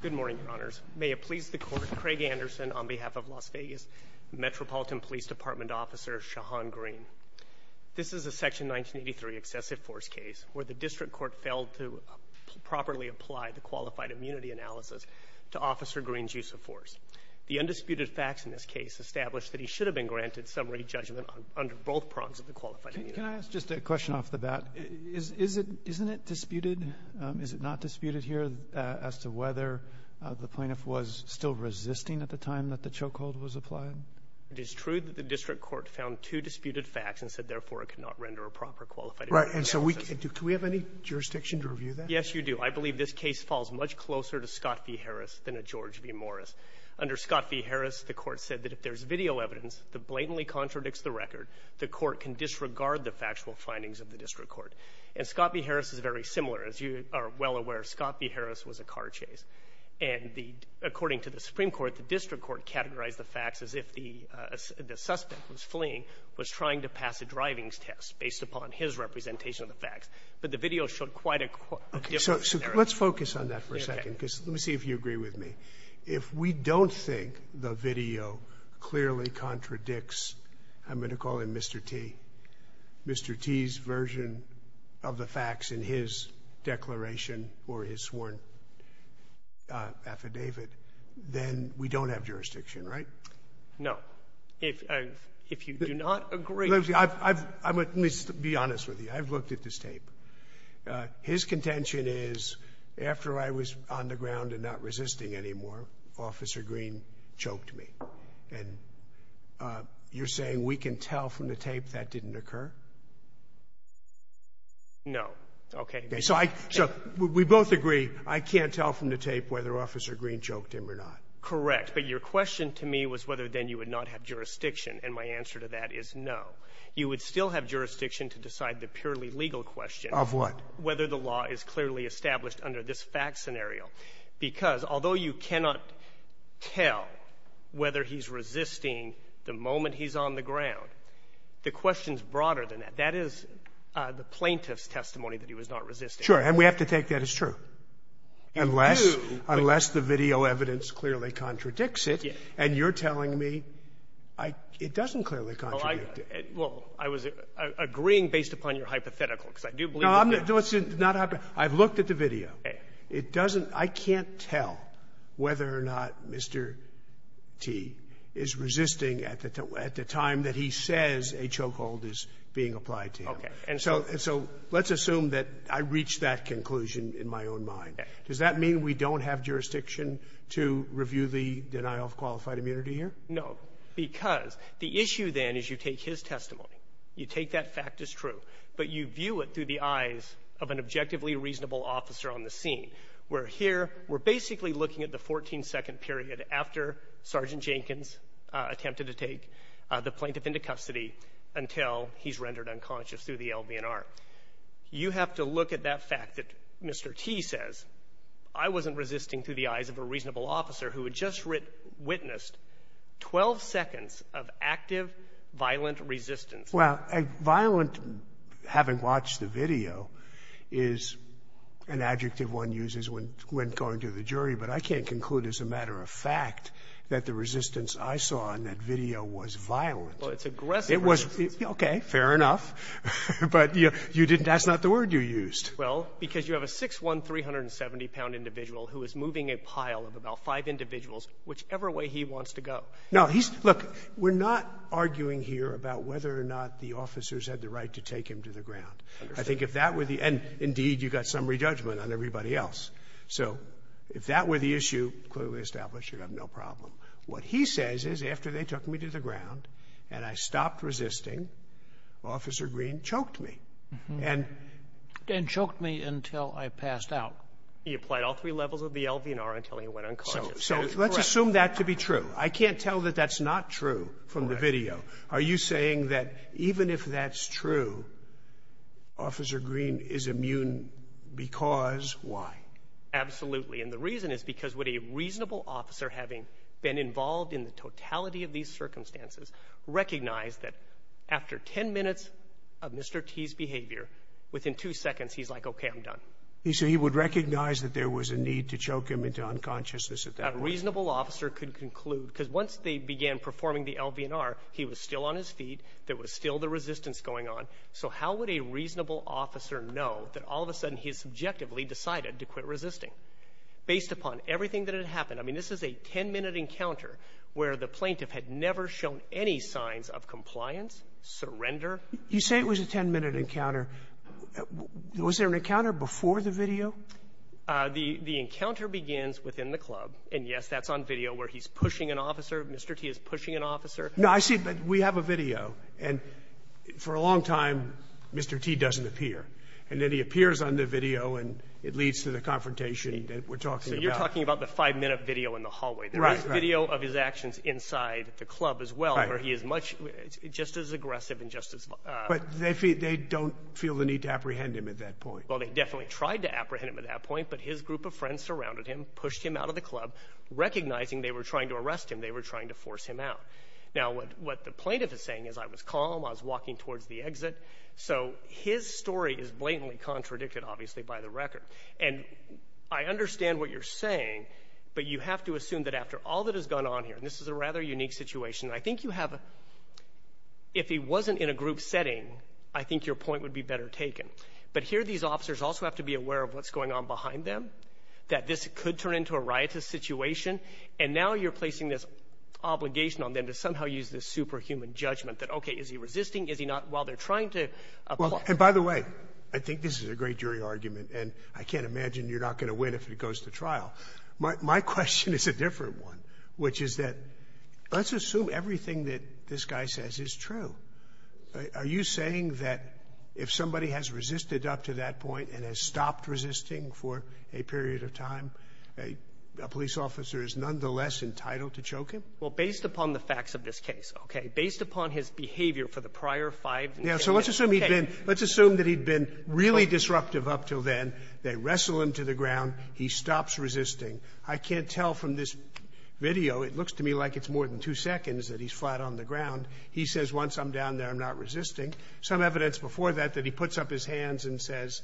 Good morning, Your Honors. May it please the Court, Craig Anderson on behalf of Las Vegas Metropolitan Police Department Officer Shahann Greene. This is a Section 1983 excessive force case where the District Court failed to properly apply the qualified immunity analysis to Officer Greene's use of force. The undisputed facts in this case establish that he should have been granted summary judgment under both prongs of the qualified immunity. Can I ask just a question off the bat? Isn't it disputed? Is it not disputed here as to whether the plaintiff was still resisting at the time that the chokehold was applied? It is true that the District Court found two disputed facts and said, therefore, it could not render a proper qualified immunity analysis. Right. And so do we have any jurisdiction to review that? Yes, you do. I believe this case falls much closer to Scott v. Harris than to George v. Morris. Under Scott v. Harris, the Court said that if there's video evidence that blatantly contradicts the record, the Court can disregard the factual findings of the District Court. And Scott v. Harris is very similar. As you are well aware, Scott v. Harris was a car chase. And according to the Supreme Court, the District Court categorized the facts as if the suspect was fleeing, was trying to pass a driving test based upon his representation of the facts. But the video showed quite a different scenario. So let's focus on that for a second because let me see if you agree with me. If we don't think the video clearly contradicts, I'm going to call him Mr. T, Mr. T's version of the facts in his declaration or his sworn affidavit, then we don't have jurisdiction, right? No. If you do not agree. Let me be honest with you. I've looked at this tape. His contention is after I was on the ground and not resisting anymore, Officer Green choked me. And you're saying we can tell from the tape that didn't occur? No. Okay. So we both agree I can't tell from the tape whether Officer Green choked him or not. Correct. But your question to me was whether then you would not have jurisdiction. And my answer to that is no. You would still have jurisdiction to decide the purely legal question. Of what? Whether the law is clearly established under this fact scenario. Because although you cannot tell whether he's resisting the moment he's on the ground, the question is broader than that. That is the plaintiff's testimony that he was not resisting. Sure. And we have to take that as true. Unless the video evidence clearly contradicts it. And you're telling me it doesn't clearly contradict it. Well, I was agreeing based upon your hypothetical, because I do believe it does. No, it's not hypothetical. I've looked at the video. Okay. I can't tell whether or not Mr. T is resisting at the time that he says a chokehold is being applied to him. Okay. And so let's assume that I reach that conclusion in my own mind. Does that mean we don't have jurisdiction to review the denial of qualified immunity here? No. Because the issue then is you take his testimony, you take that fact as true, but you view it through the eyes of an objectively reasonable officer on the scene. We're here. We're basically looking at the 14-second period after Sergeant Jenkins attempted to take the plaintiff into custody until he's rendered unconscious through the LVNR. You have to look at that fact that Mr. T says. I wasn't resisting through the eyes of a reasonable officer who had just witnessed 12 seconds of active violent resistance. Well, violent having watched the video is an adjective one uses when going to the jury, but I can't conclude as a matter of fact that the resistance I saw in that video was violent. Well, it's aggressive resistance. Okay. Fair enough. But that's not the word you used. Well, because you have a 6'1", 370-pound individual who is moving a pile of about five individuals whichever way he wants to go. Now, look, we're not arguing here about whether or not the officers had the right to take him to the ground. I think if that were the end, indeed, you've got summary judgment on everybody else. So if that were the issue, clearly established, you'd have no problem. What he says is after they took me to the ground and I stopped resisting, Officer Green choked me. And choked me until I passed out. He applied all three levels of the LVNR until he went unconscious. So let's assume that to be true. I can't tell that that's not true from the video. Are you saying that even if that's true, Officer Green is immune because why? Absolutely. And the reason is because would a reasonable officer having been involved in the totality of these circumstances recognize that after ten minutes of Mr. T's behavior, within two seconds he's like, okay, I'm done. So he would recognize that there was a need to choke him into unconsciousness at that point. A reasonable officer could conclude, because once they began performing the LVNR, he was still on his feet, there was still the resistance going on. So how would a reasonable officer know that all of a sudden he has subjectively decided to quit resisting? Based upon everything that had happened, I mean, this is a ten-minute encounter where the plaintiff had never shown any signs of compliance, surrender. You say it was a ten-minute encounter. Was there an encounter before the video? The encounter begins within the club. And, yes, that's on video where he's pushing an officer, Mr. T is pushing an officer. No, I see, but we have a video. And for a long time, Mr. T doesn't appear. And then he appears on the video, and it leads to the confrontation that we're talking about. So you're talking about the five-minute video in the hallway. There is video of his actions inside the club as well, where he is just as aggressive and just as violent. But they don't feel the need to apprehend him at that point. Well, they definitely tried to apprehend him at that point, but his group of friends surrounded him, pushed him out of the club, recognizing they were trying to arrest him. They were trying to force him out. Now, what the plaintiff is saying is, I was calm, I was walking towards the exit. So his story is blatantly contradicted, obviously, by the record. And I understand what you're saying, but you have to assume that after all that has gone on here, and this is a rather unique situation, I think you have a— if he wasn't in a group setting, I think your point would be better taken. But here these officers also have to be aware of what's going on behind them, that this could turn into a riotous situation, and now you're placing this obligation on them to somehow use this superhuman judgment that, okay, is he resisting, is he not, while they're trying to— And by the way, I think this is a great jury argument, and I can't imagine you're not going to win if it goes to trial. My question is a different one, which is that let's assume everything that this guy says is true. Are you saying that if somebody has resisted up to that point and has stopped resisting for a period of time, a police officer is nonetheless entitled to choke him? Well, based upon the facts of this case, okay, based upon his behavior for the prior five— Yeah, so let's assume he'd been—let's assume that he'd been really disruptive up until then. They wrestle him to the ground. He stops resisting. I can't tell from this video, it looks to me like it's more than two seconds that he's flat on the ground. He says, once I'm down there, I'm not resisting. Some evidence before that that he puts up his hands and says,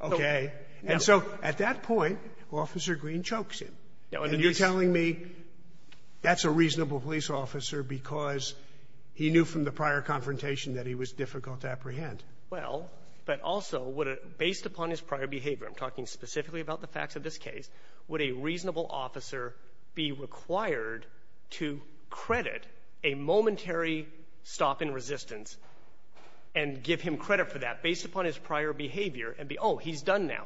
okay. And so at that point, Officer Green chokes him. And you're telling me that's a reasonable police officer because he knew from the prior confrontation that he was difficult to apprehend. Well, but also, based upon his prior behavior, I'm talking specifically about the facts of this case, would a reasonable officer be required to credit a momentary stop in resistance and give him credit for that based upon his prior behavior and be, oh, he's done now.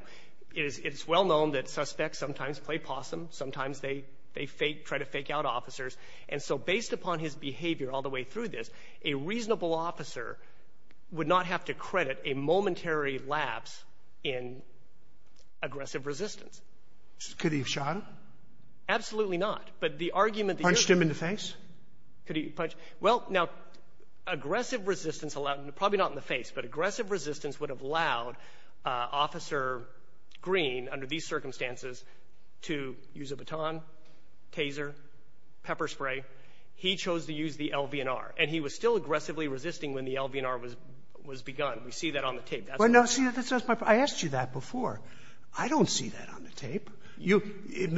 It's well known that suspects sometimes play possum. Sometimes they try to fake out officers. And so based upon his behavior all the way through this, a reasonable officer would not have to credit a momentary lapse in aggressive resistance. Could he have shot him? Absolutely not. Punched him in the face? Well, now, aggressive resistance, probably not in the face, but aggressive resistance would have allowed Officer Green, under these circumstances, to use a baton, taser, pepper spray. He chose to use the LVNR. And he was still aggressively resisting when the LVNR was begun. We see that on the tape. That's what I'm saying. Well, no, see, that's my point. I asked you that before. I don't see that on the tape. It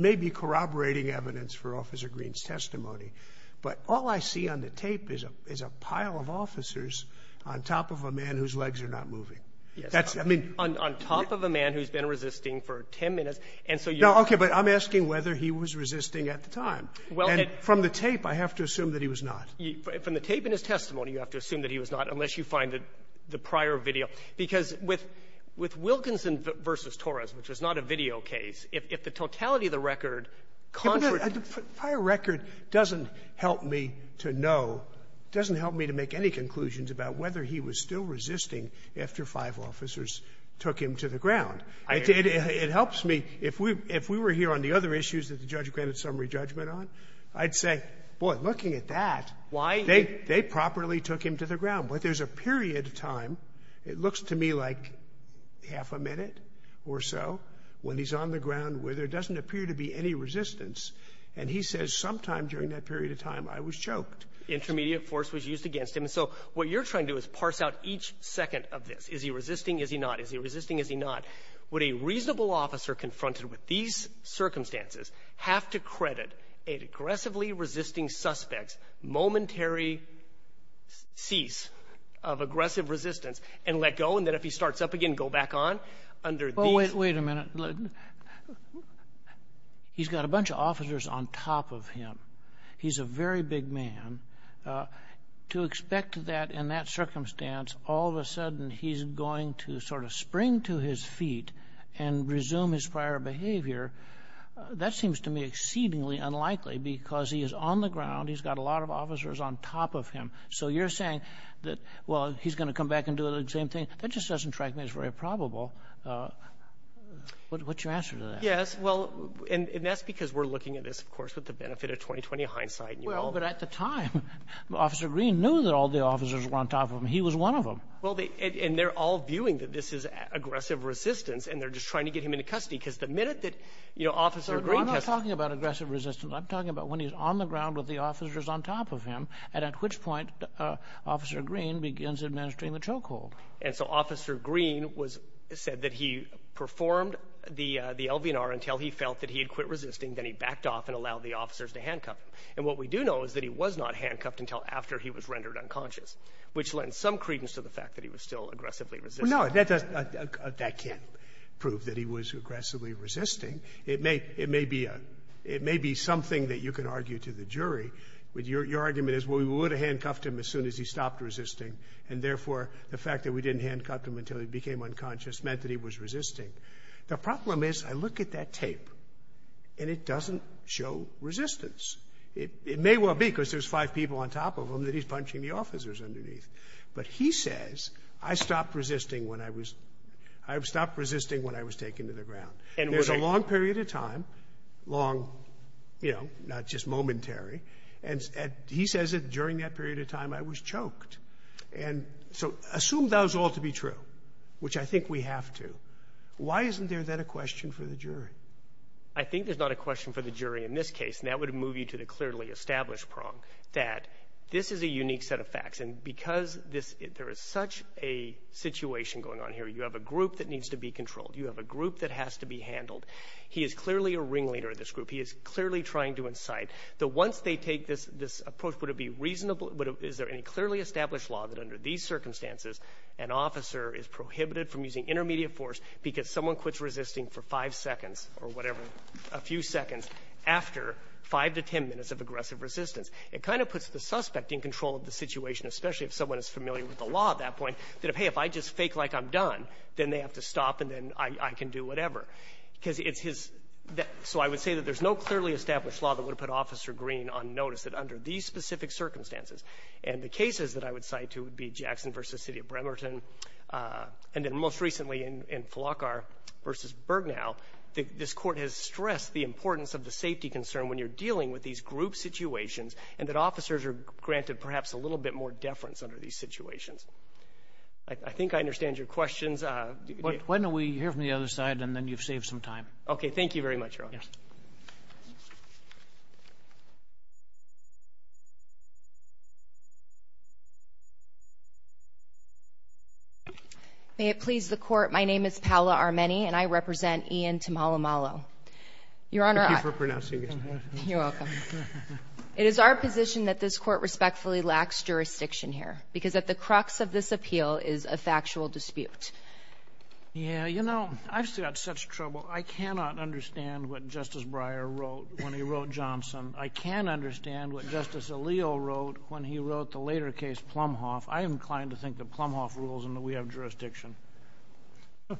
may be corroborating evidence for Officer Green's testimony, but all I see on the tape is a pile of officers on top of a man whose legs are not moving. Yes, Your Honor. On top of a man who's been resisting for 10 minutes. And so you're going to say that's not true. No, Your Honor. And from the tape, I have to assume that he was not. From the tape and his testimony, you have to assume that he was not, unless you find the prior video. Because with Wilkinson v. Torres, which was not a video case, if the totality of the record contradicts the record. The prior record doesn't help me to know, doesn't help me to make any conclusions about whether he was still resisting after five officers took him to the ground. It helps me. If we were here on the other issues that the judge granted summary judgment on, I'd say, boy, looking at that. Why? They properly took him to the ground. But there's a period of time, it looks to me like half a minute or so, when he's on the ground where there doesn't appear to be any resistance. And he says sometime during that period of time, I was choked. Intermediate force was used against him. And so what you're trying to do is parse out each second of this. Is he resisting? Is he not? Is he resisting? Is he not? Would a reasonable officer confronted with these circumstances have to credit an aggressively resisting suspect's momentary cease of aggressive resistance and let go, and then if he starts up again, go back on? Wait a minute. He's got a bunch of officers on top of him. He's a very big man. To expect that in that circumstance, all of a sudden, he's going to sort of spring to his feet and resume his prior behavior, that seems to me exceedingly unlikely because he is on the ground. He's got a lot of officers on top of him. So you're saying that, well, he's going to come back and do the same thing. That just doesn't strike me as very probable. What's your answer to that? Yes, well, and that's because we're looking at this, of course, with the benefit of 20-20 hindsight. Well, but at the time, Officer Green knew that all the officers were on top of him. He was one of them. Well, and they're all viewing that this is aggressive resistance, and they're just trying to get him into custody because the minute that Officer Green has— I'm not talking about aggressive resistance. I'm talking about when he's on the ground with the officers on top of him, and at which point Officer Green begins administering the choke hold. And so Officer Green said that he performed the LVNR until he felt that he had quit resisting. Then he backed off and allowed the officers to handcuff him. And what we do know is that he was not handcuffed until after he was rendered unconscious, which lends some credence to the fact that he was still aggressively resisting. Well, no, that can't prove that he was aggressively resisting. It may be something that you can argue to the jury. Your argument is, well, we would have handcuffed him as soon as he stopped resisting, and therefore the fact that we didn't handcuff him until he became unconscious meant that he was resisting. The problem is I look at that tape, and it doesn't show resistance. It may well be because there's five people on top of him that he's punching the officers underneath. But he says, I stopped resisting when I was—I stopped resisting when I was taken to the ground. There's a long period of time, long, you know, not just momentary, and he says that during that period of time I was choked. And so assume that was all to be true, which I think we have to. Why isn't there then a question for the jury? I think there's not a question for the jury in this case, and that would move you to the clearly established prong that this is a unique set of facts. And because there is such a situation going on here, you have a group that needs to be controlled. You have a group that has to be handled. He is clearly a ringleader of this group. He is clearly trying to incite. But once they take this approach, would it be reasonable — is there any clearly established law that under these circumstances an officer is prohibited from using intermediate force because someone quits resisting for five seconds or whatever, a few seconds after five to ten minutes of aggressive resistance? It kind of puts the suspect in control of the situation, especially if someone is familiar with the law at that point, that if, hey, if I just fake like I'm done, then they have to stop and then I can do whatever. Because it's his — so I would say that there's no clearly established law that would put Officer Green on notice that under these specific circumstances. And the cases that I would cite would be Jackson v. City of Bremerton, and then most recently in Flockar v. Bergnow, this Court has stressed the importance of the safety concern when you're dealing with these group situations and that officers are granted perhaps a little bit more deference under these situations. I think I understand your questions. Why don't we hear from the other side, and then you've saved some time. Thank you very much, Your Honor. Yes. May it please the Court, my name is Paola Armeni, and I represent Ian Tamalumalo. Your Honor, I — Thank you for pronouncing his name. You're welcome. It is our position that this Court respectfully lacks jurisdiction here because at the crux of this appeal is a factual dispute. Yeah, you know, I've still got such trouble. I cannot understand what Justice Breyer wrote when he wrote Johnson. I can understand what Justice Alito wrote when he wrote the later case Plumhoff. I am inclined to think that Plumhoff rules and that we have jurisdiction. I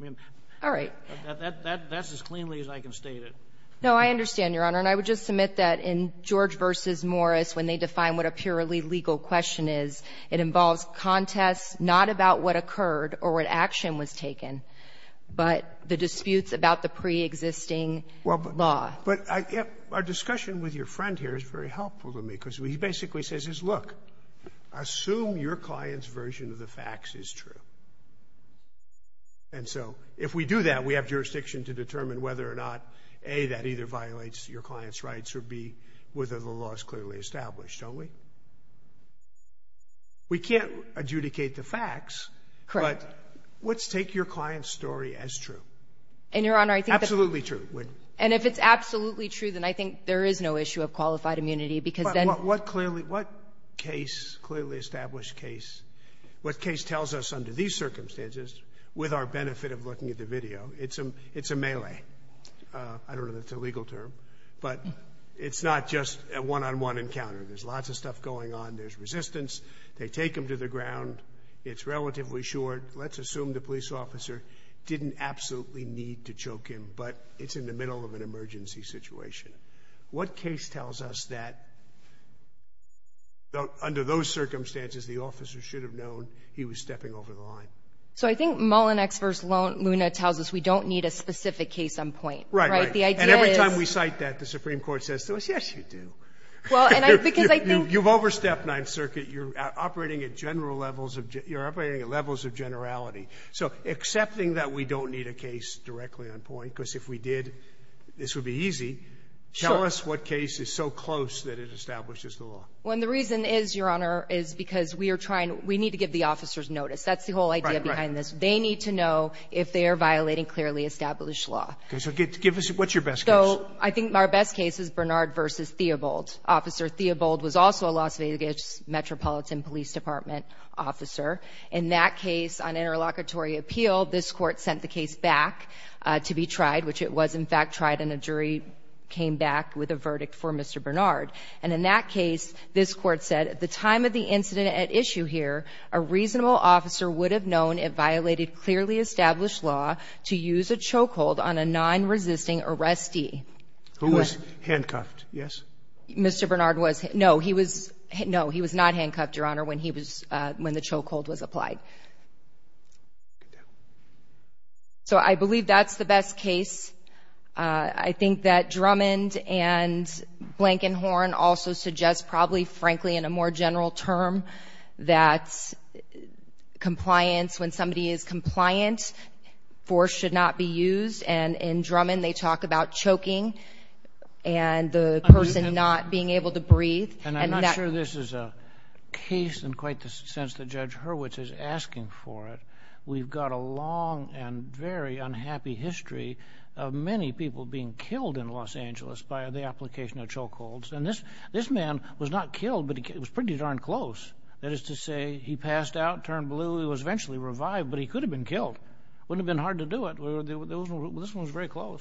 mean — All right. That's as cleanly as I can state it. No, I understand, Your Honor. And I would just submit that in George v. Morris, when they define what a purely legal question is, it involves contests not about what occurred or what action was taken, but the disputes about the preexisting law. But our discussion with your friend here is very helpful to me because he basically says, look, assume your client's version of the facts is true. And so if we do that, we have jurisdiction to determine whether or not, A, that either violates your client's rights, or B, whether the law is clearly established, don't we? We can't adjudicate the facts. Correct. But let's take your client's story as true. And, Your Honor, I think that — Absolutely true. And if it's absolutely true, then I think there is no issue of qualified immunity because then — But what clearly — what case, clearly established case, what case tells us under these circumstances, with our benefit of looking at the video, it's a melee. I don't know that's a legal term, but it's not just a one-on-one encounter. There's lots of stuff going on. There's resistance. They take them to the ground. It's relatively short. Let's assume the police officer didn't absolutely need to choke him, but it's in the middle of an emergency situation. What case tells us that, under those circumstances, the officer should have known he was stepping over the line? So I think Mullin v. Luna tells us we don't need a specific case on point. Right, right. And every time we cite that, the Supreme Court says to us, yes, you do. Because I think — You've overstepped Ninth Circuit. You're operating at general levels of — you're operating at levels of generality. So accepting that we don't need a case directly on point, because if we did, this would be easy, tell us what case is so close that it establishes the law. Well, and the reason is, Your Honor, is because we are trying — we need to give the officers notice. That's the whole idea behind this. Right, right. They need to know if they are violating clearly established law. Okay. So give us — what's your best case? So I think our best case is Bernard v. Theobald. Officer Theobald was also a Las Vegas Metropolitan Police Department officer. In that case, on interlocutory appeal, this Court sent the case back to be tried, which it was, in fact, tried, and a jury came back with a verdict for Mr. Bernard. And in that case, this Court said, at the time of the incident at issue here, a reasonable officer would have known it violated clearly established law to use a chokehold on a nonresisting arrestee. Who was handcuffed, yes? Mr. Bernard was. No, he was — no, he was not handcuffed, Your Honor, when he was — when the chokehold was applied. So I believe that's the best case. I think that Drummond and Blankenhorn also suggest probably, frankly, in a more general term, that compliance — when somebody is compliant, force should not be used. And in Drummond, they talk about choking and the person not being able to breathe. And I'm not sure this is a case in quite the sense that Judge Hurwitz is asking for it. We've got a long and very unhappy history of many people being killed in Los Angeles by the application of chokeholds. And this man was not killed, but it was pretty darn close. That is to say, he passed out, turned blue. He was eventually revived, but he could have been killed. Wouldn't have been hard to do it. This one was very close.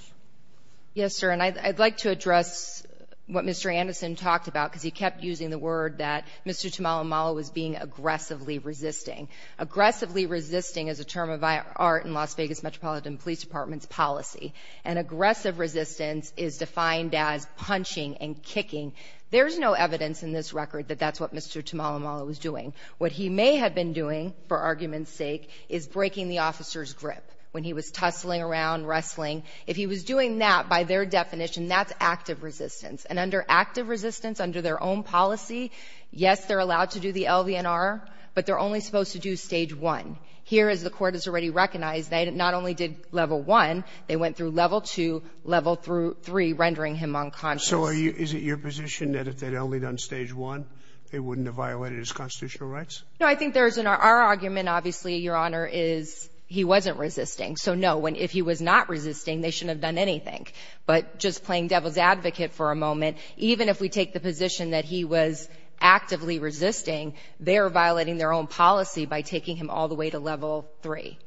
Yes, sir. And I'd like to address what Mr. Anderson talked about, because he kept using the word that Mr. Tamalumala was being aggressively resisting. Aggressively resisting is a term of art in Las Vegas Metropolitan Police Department's policy. And aggressive resistance is defined as punching and kicking. There's no evidence in this record that that's what Mr. Tamalumala was doing. What he may have been doing, for argument's sake, is breaking the officer's grip when he was tussling around, wrestling. If he was doing that, by their definition, that's active resistance. And under active resistance, under their own policy, yes, they're allowed to do the LVNR, but they're only supposed to do Stage 1. Here, as the court has already recognized, they not only did Level 1, they went through Level 2, Level 3, rendering him unconscious. So is it your position that if they'd only done Stage 1, they wouldn't have violated his constitutional rights? No, I think there's an argument, obviously, Your Honor, is he wasn't resisting. So, no, if he was not resisting, they shouldn't have done anything. But just playing devil's advocate for a moment, even if we take the position that he was actively resisting, they're violating their own policy by taking him all the way to Level 3.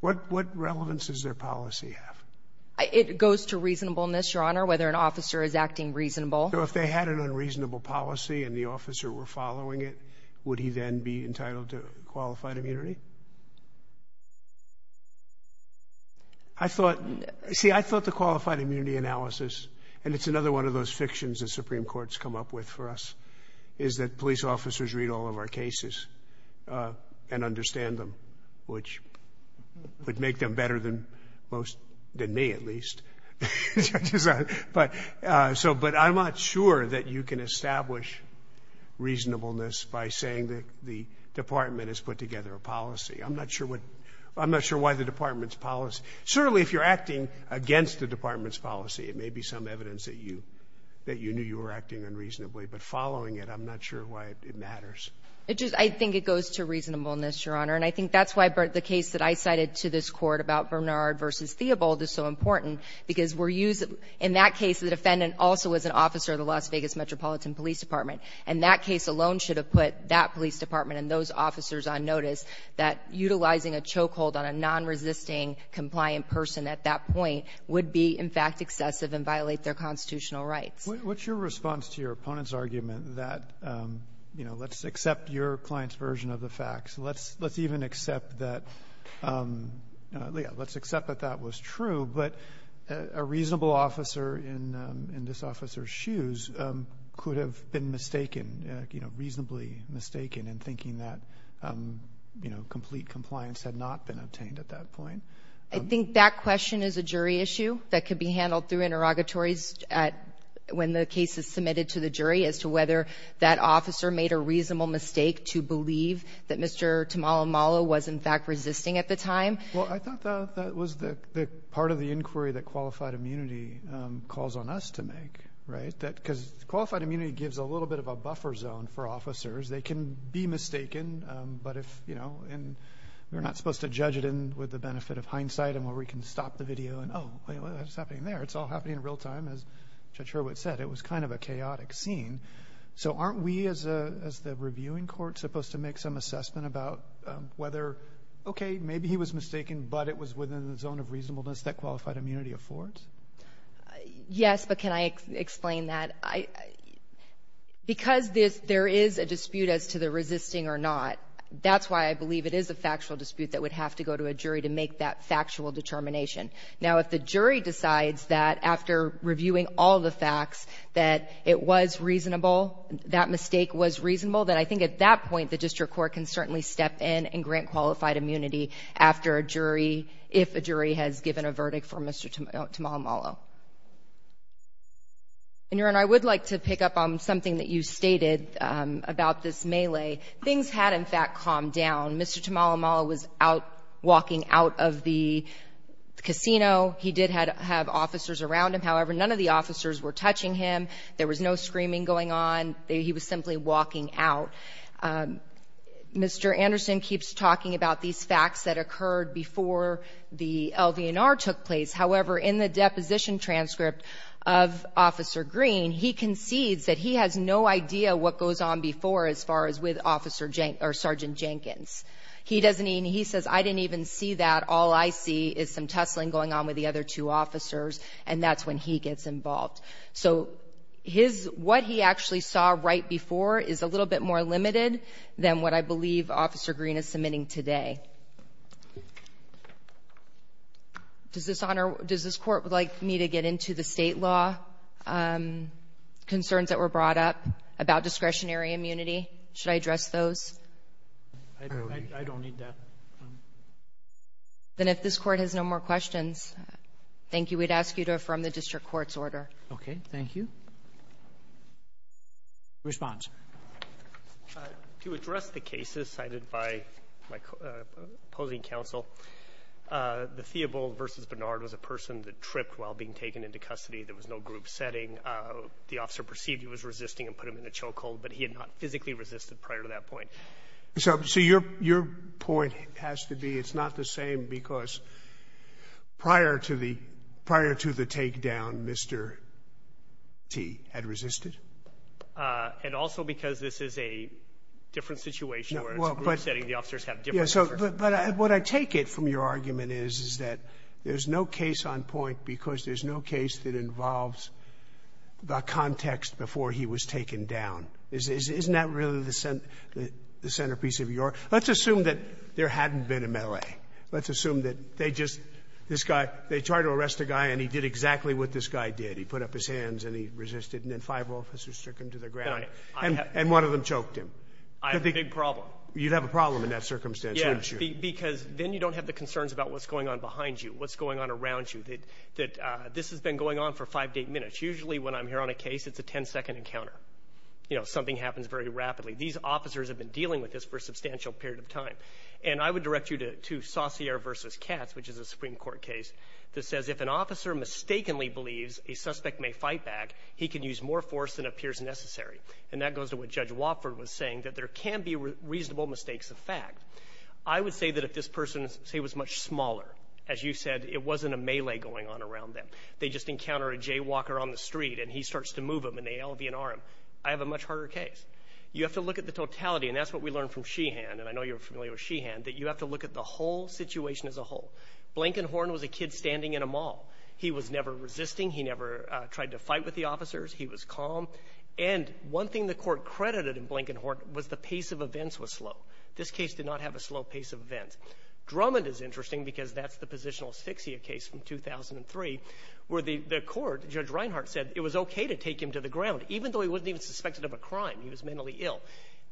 What relevance does their policy have? It goes to reasonableness, Your Honor, whether an officer is acting reasonable. So if they had an unreasonable policy and the officer were following it, would he then be entitled to qualified immunity? I thought, see, I thought the qualified immunity analysis, and it's another one of those fictions the Supreme Court's come up with for us, is that police officers read all of our cases and understand them, which would make them better than most, than me, at least. But I'm not sure that you can establish reasonableness by saying that the Department has put together a policy. I'm not sure what the Department's policy. Certainly if you're acting against the Department's policy, it may be some evidence that you knew you were acting unreasonably. But following it, I'm not sure why it matters. I think it goes to reasonableness, Your Honor, and I think that's why the case that I cited to this Court about Bernard v. Theobald is so important, because we're using, in that case, the defendant also was an officer of the Las Vegas Metropolitan Police Department. And that case alone should have put that police department and those officers on notice that utilizing a chokehold on a nonresisting, compliant person at that point would be, in fact, excessive and violate their constitutional rights. What's your response to your opponent's argument that, you know, let's accept your client's version of the facts? Let's even accept that, yeah, let's accept that that was true. But a reasonable officer in this officer's shoes could have been mistaken, you know, reasonably mistaken in thinking that, you know, complete compliance had not been obtained at that point. I think that question is a jury issue that could be handled through interrogatories when the case is submitted to the jury as to whether that officer made a reasonable mistake to believe that Mr. Tamalamala was, in fact, resisting at the time. Well, I thought that was the part of the inquiry that qualified immunity calls on us to make, right? Because qualified immunity gives a little bit of a buffer zone for officers. They can be mistaken, but if, you know, and we're not supposed to judge it with the benefit of hindsight and where we can stop the video and, oh, it's happening there. It's all happening in real time, as Judge Hurwitz said. It was kind of a chaotic scene. So aren't we as the reviewing court supposed to make some assessment about whether, okay, maybe he was mistaken, but it was within the zone of reasonableness that qualified immunity affords? Yes, but can I explain that? Because there is a dispute as to the resisting or not, that's why I believe it is a factual dispute that would have to go to a jury to make that factual determination. Now, if the jury decides that after reviewing all the facts that it was reasonable, that mistake was reasonable, then I think at that point the district court can certainly step in and grant qualified immunity after a jury, if a jury has given a verdict for Mr. Tamalumala. And, Your Honor, I would like to pick up on something that you stated about this melee. Things had, in fact, calmed down. Mr. Tamalumala was out walking out of the casino. He did have officers around him. However, none of the officers were touching him. There was no screaming going on. He was simply walking out. Mr. Anderson keeps talking about these facts that occurred before the LVNR took place. However, in the deposition transcript of Officer Green, he concedes that he has no idea what goes on before as far as with Sergeant Jenkins. He says, I didn't even see that. All I see is some tussling going on with the other two officers, and that's when he gets involved. So what he actually saw right before is a little bit more limited than what I believe Officer Green is submitting today. Does this Court would like me to get into the state law concerns that were brought up about discretionary immunity? Should I address those? I don't need that. Then if this Court has no more questions, thank you. We'd ask you to affirm the district court's order. Okay. Thank you. Response. To address the cases cited by my opposing counsel, the Theobald versus Bernard was a person that tripped while being taken into custody. There was no group setting. The officer perceived he was resisting and put him in a choke hold, but he had not physically resisted prior to that point. So your point has to be it's not the same because prior to the takedown, Mr. T. had resisted? And also because this is a different situation where it's a group setting. The officers have different concerns. But what I take it from your argument is that there's no case on point because there's no case that involves the context before he was taken down. Isn't that really the centerpiece of your argument? Let's assume that there hadn't been a melee. Let's assume that they just, this guy, they tried to arrest the guy and he did exactly what this guy did. He put up his hands and he resisted and then five officers took him to the ground and one of them choked him. I have a big problem. You'd have a problem in that circumstance, wouldn't you? Yeah, because then you don't have the concerns about what's going on behind you, what's going on around you. That this has been going on for five to eight minutes. Usually when I'm here on a case, it's a ten-second encounter. You know, something happens very rapidly. These officers have been dealing with this for a substantial period of time. And I would direct you to Saussure versus Katz, which is a Supreme Court case, that says if an officer mistakenly believes a suspect may fight back, he can use more force than appears necessary. And that goes to what Judge Wofford was saying, that there can be reasonable mistakes of fact. I would say that if this person, say, was much smaller, as you said, it wasn't a melee going on around them. They just encounter a jaywalker on the street and he starts to move them and they LV&R him. I have a much harder case. You have to look at the totality, and that's what we learned from Sheehan, and I know you're familiar with Sheehan, that you have to look at the whole situation as a whole. Blankenhorn was a kid standing in a mall. He was never resisting. He never tried to fight with the officers. He was calm. And one thing the court credited in Blankenhorn was the pace of events was slow. This case did not have a slow pace of events. Drummond is interesting because that's the positional asphyxia case from 2003 where the court, Judge Reinhardt said it was okay to take him to the ground, even though he wasn't even suspected of a crime. He was mentally ill.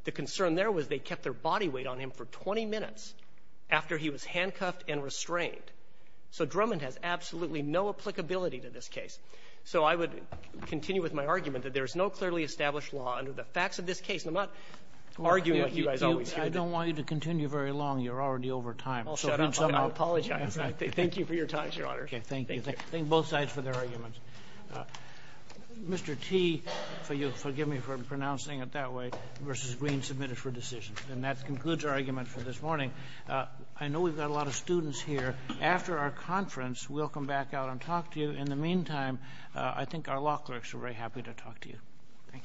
The concern there was they kept their body weight on him for 20 minutes after he was handcuffed and restrained. So Drummond has absolutely no applicability to this case. So I would continue with my argument that there is no clearly established law under the facts of this case. And I'm not arguing like you guys always do. I don't want you to continue very long. You're already over time. I'll shut up. I apologize. Thank you for your time, Your Honor. Thank you. Thank both sides for their arguments. Mr. T, forgive me for pronouncing it that way, versus Green, submitted for decision. And that concludes our argument for this morning. I know we've got a lot of students here. After our conference, we'll come back out and talk to you. In the meantime, I think our law clerks are very happy to talk to you. Thank you.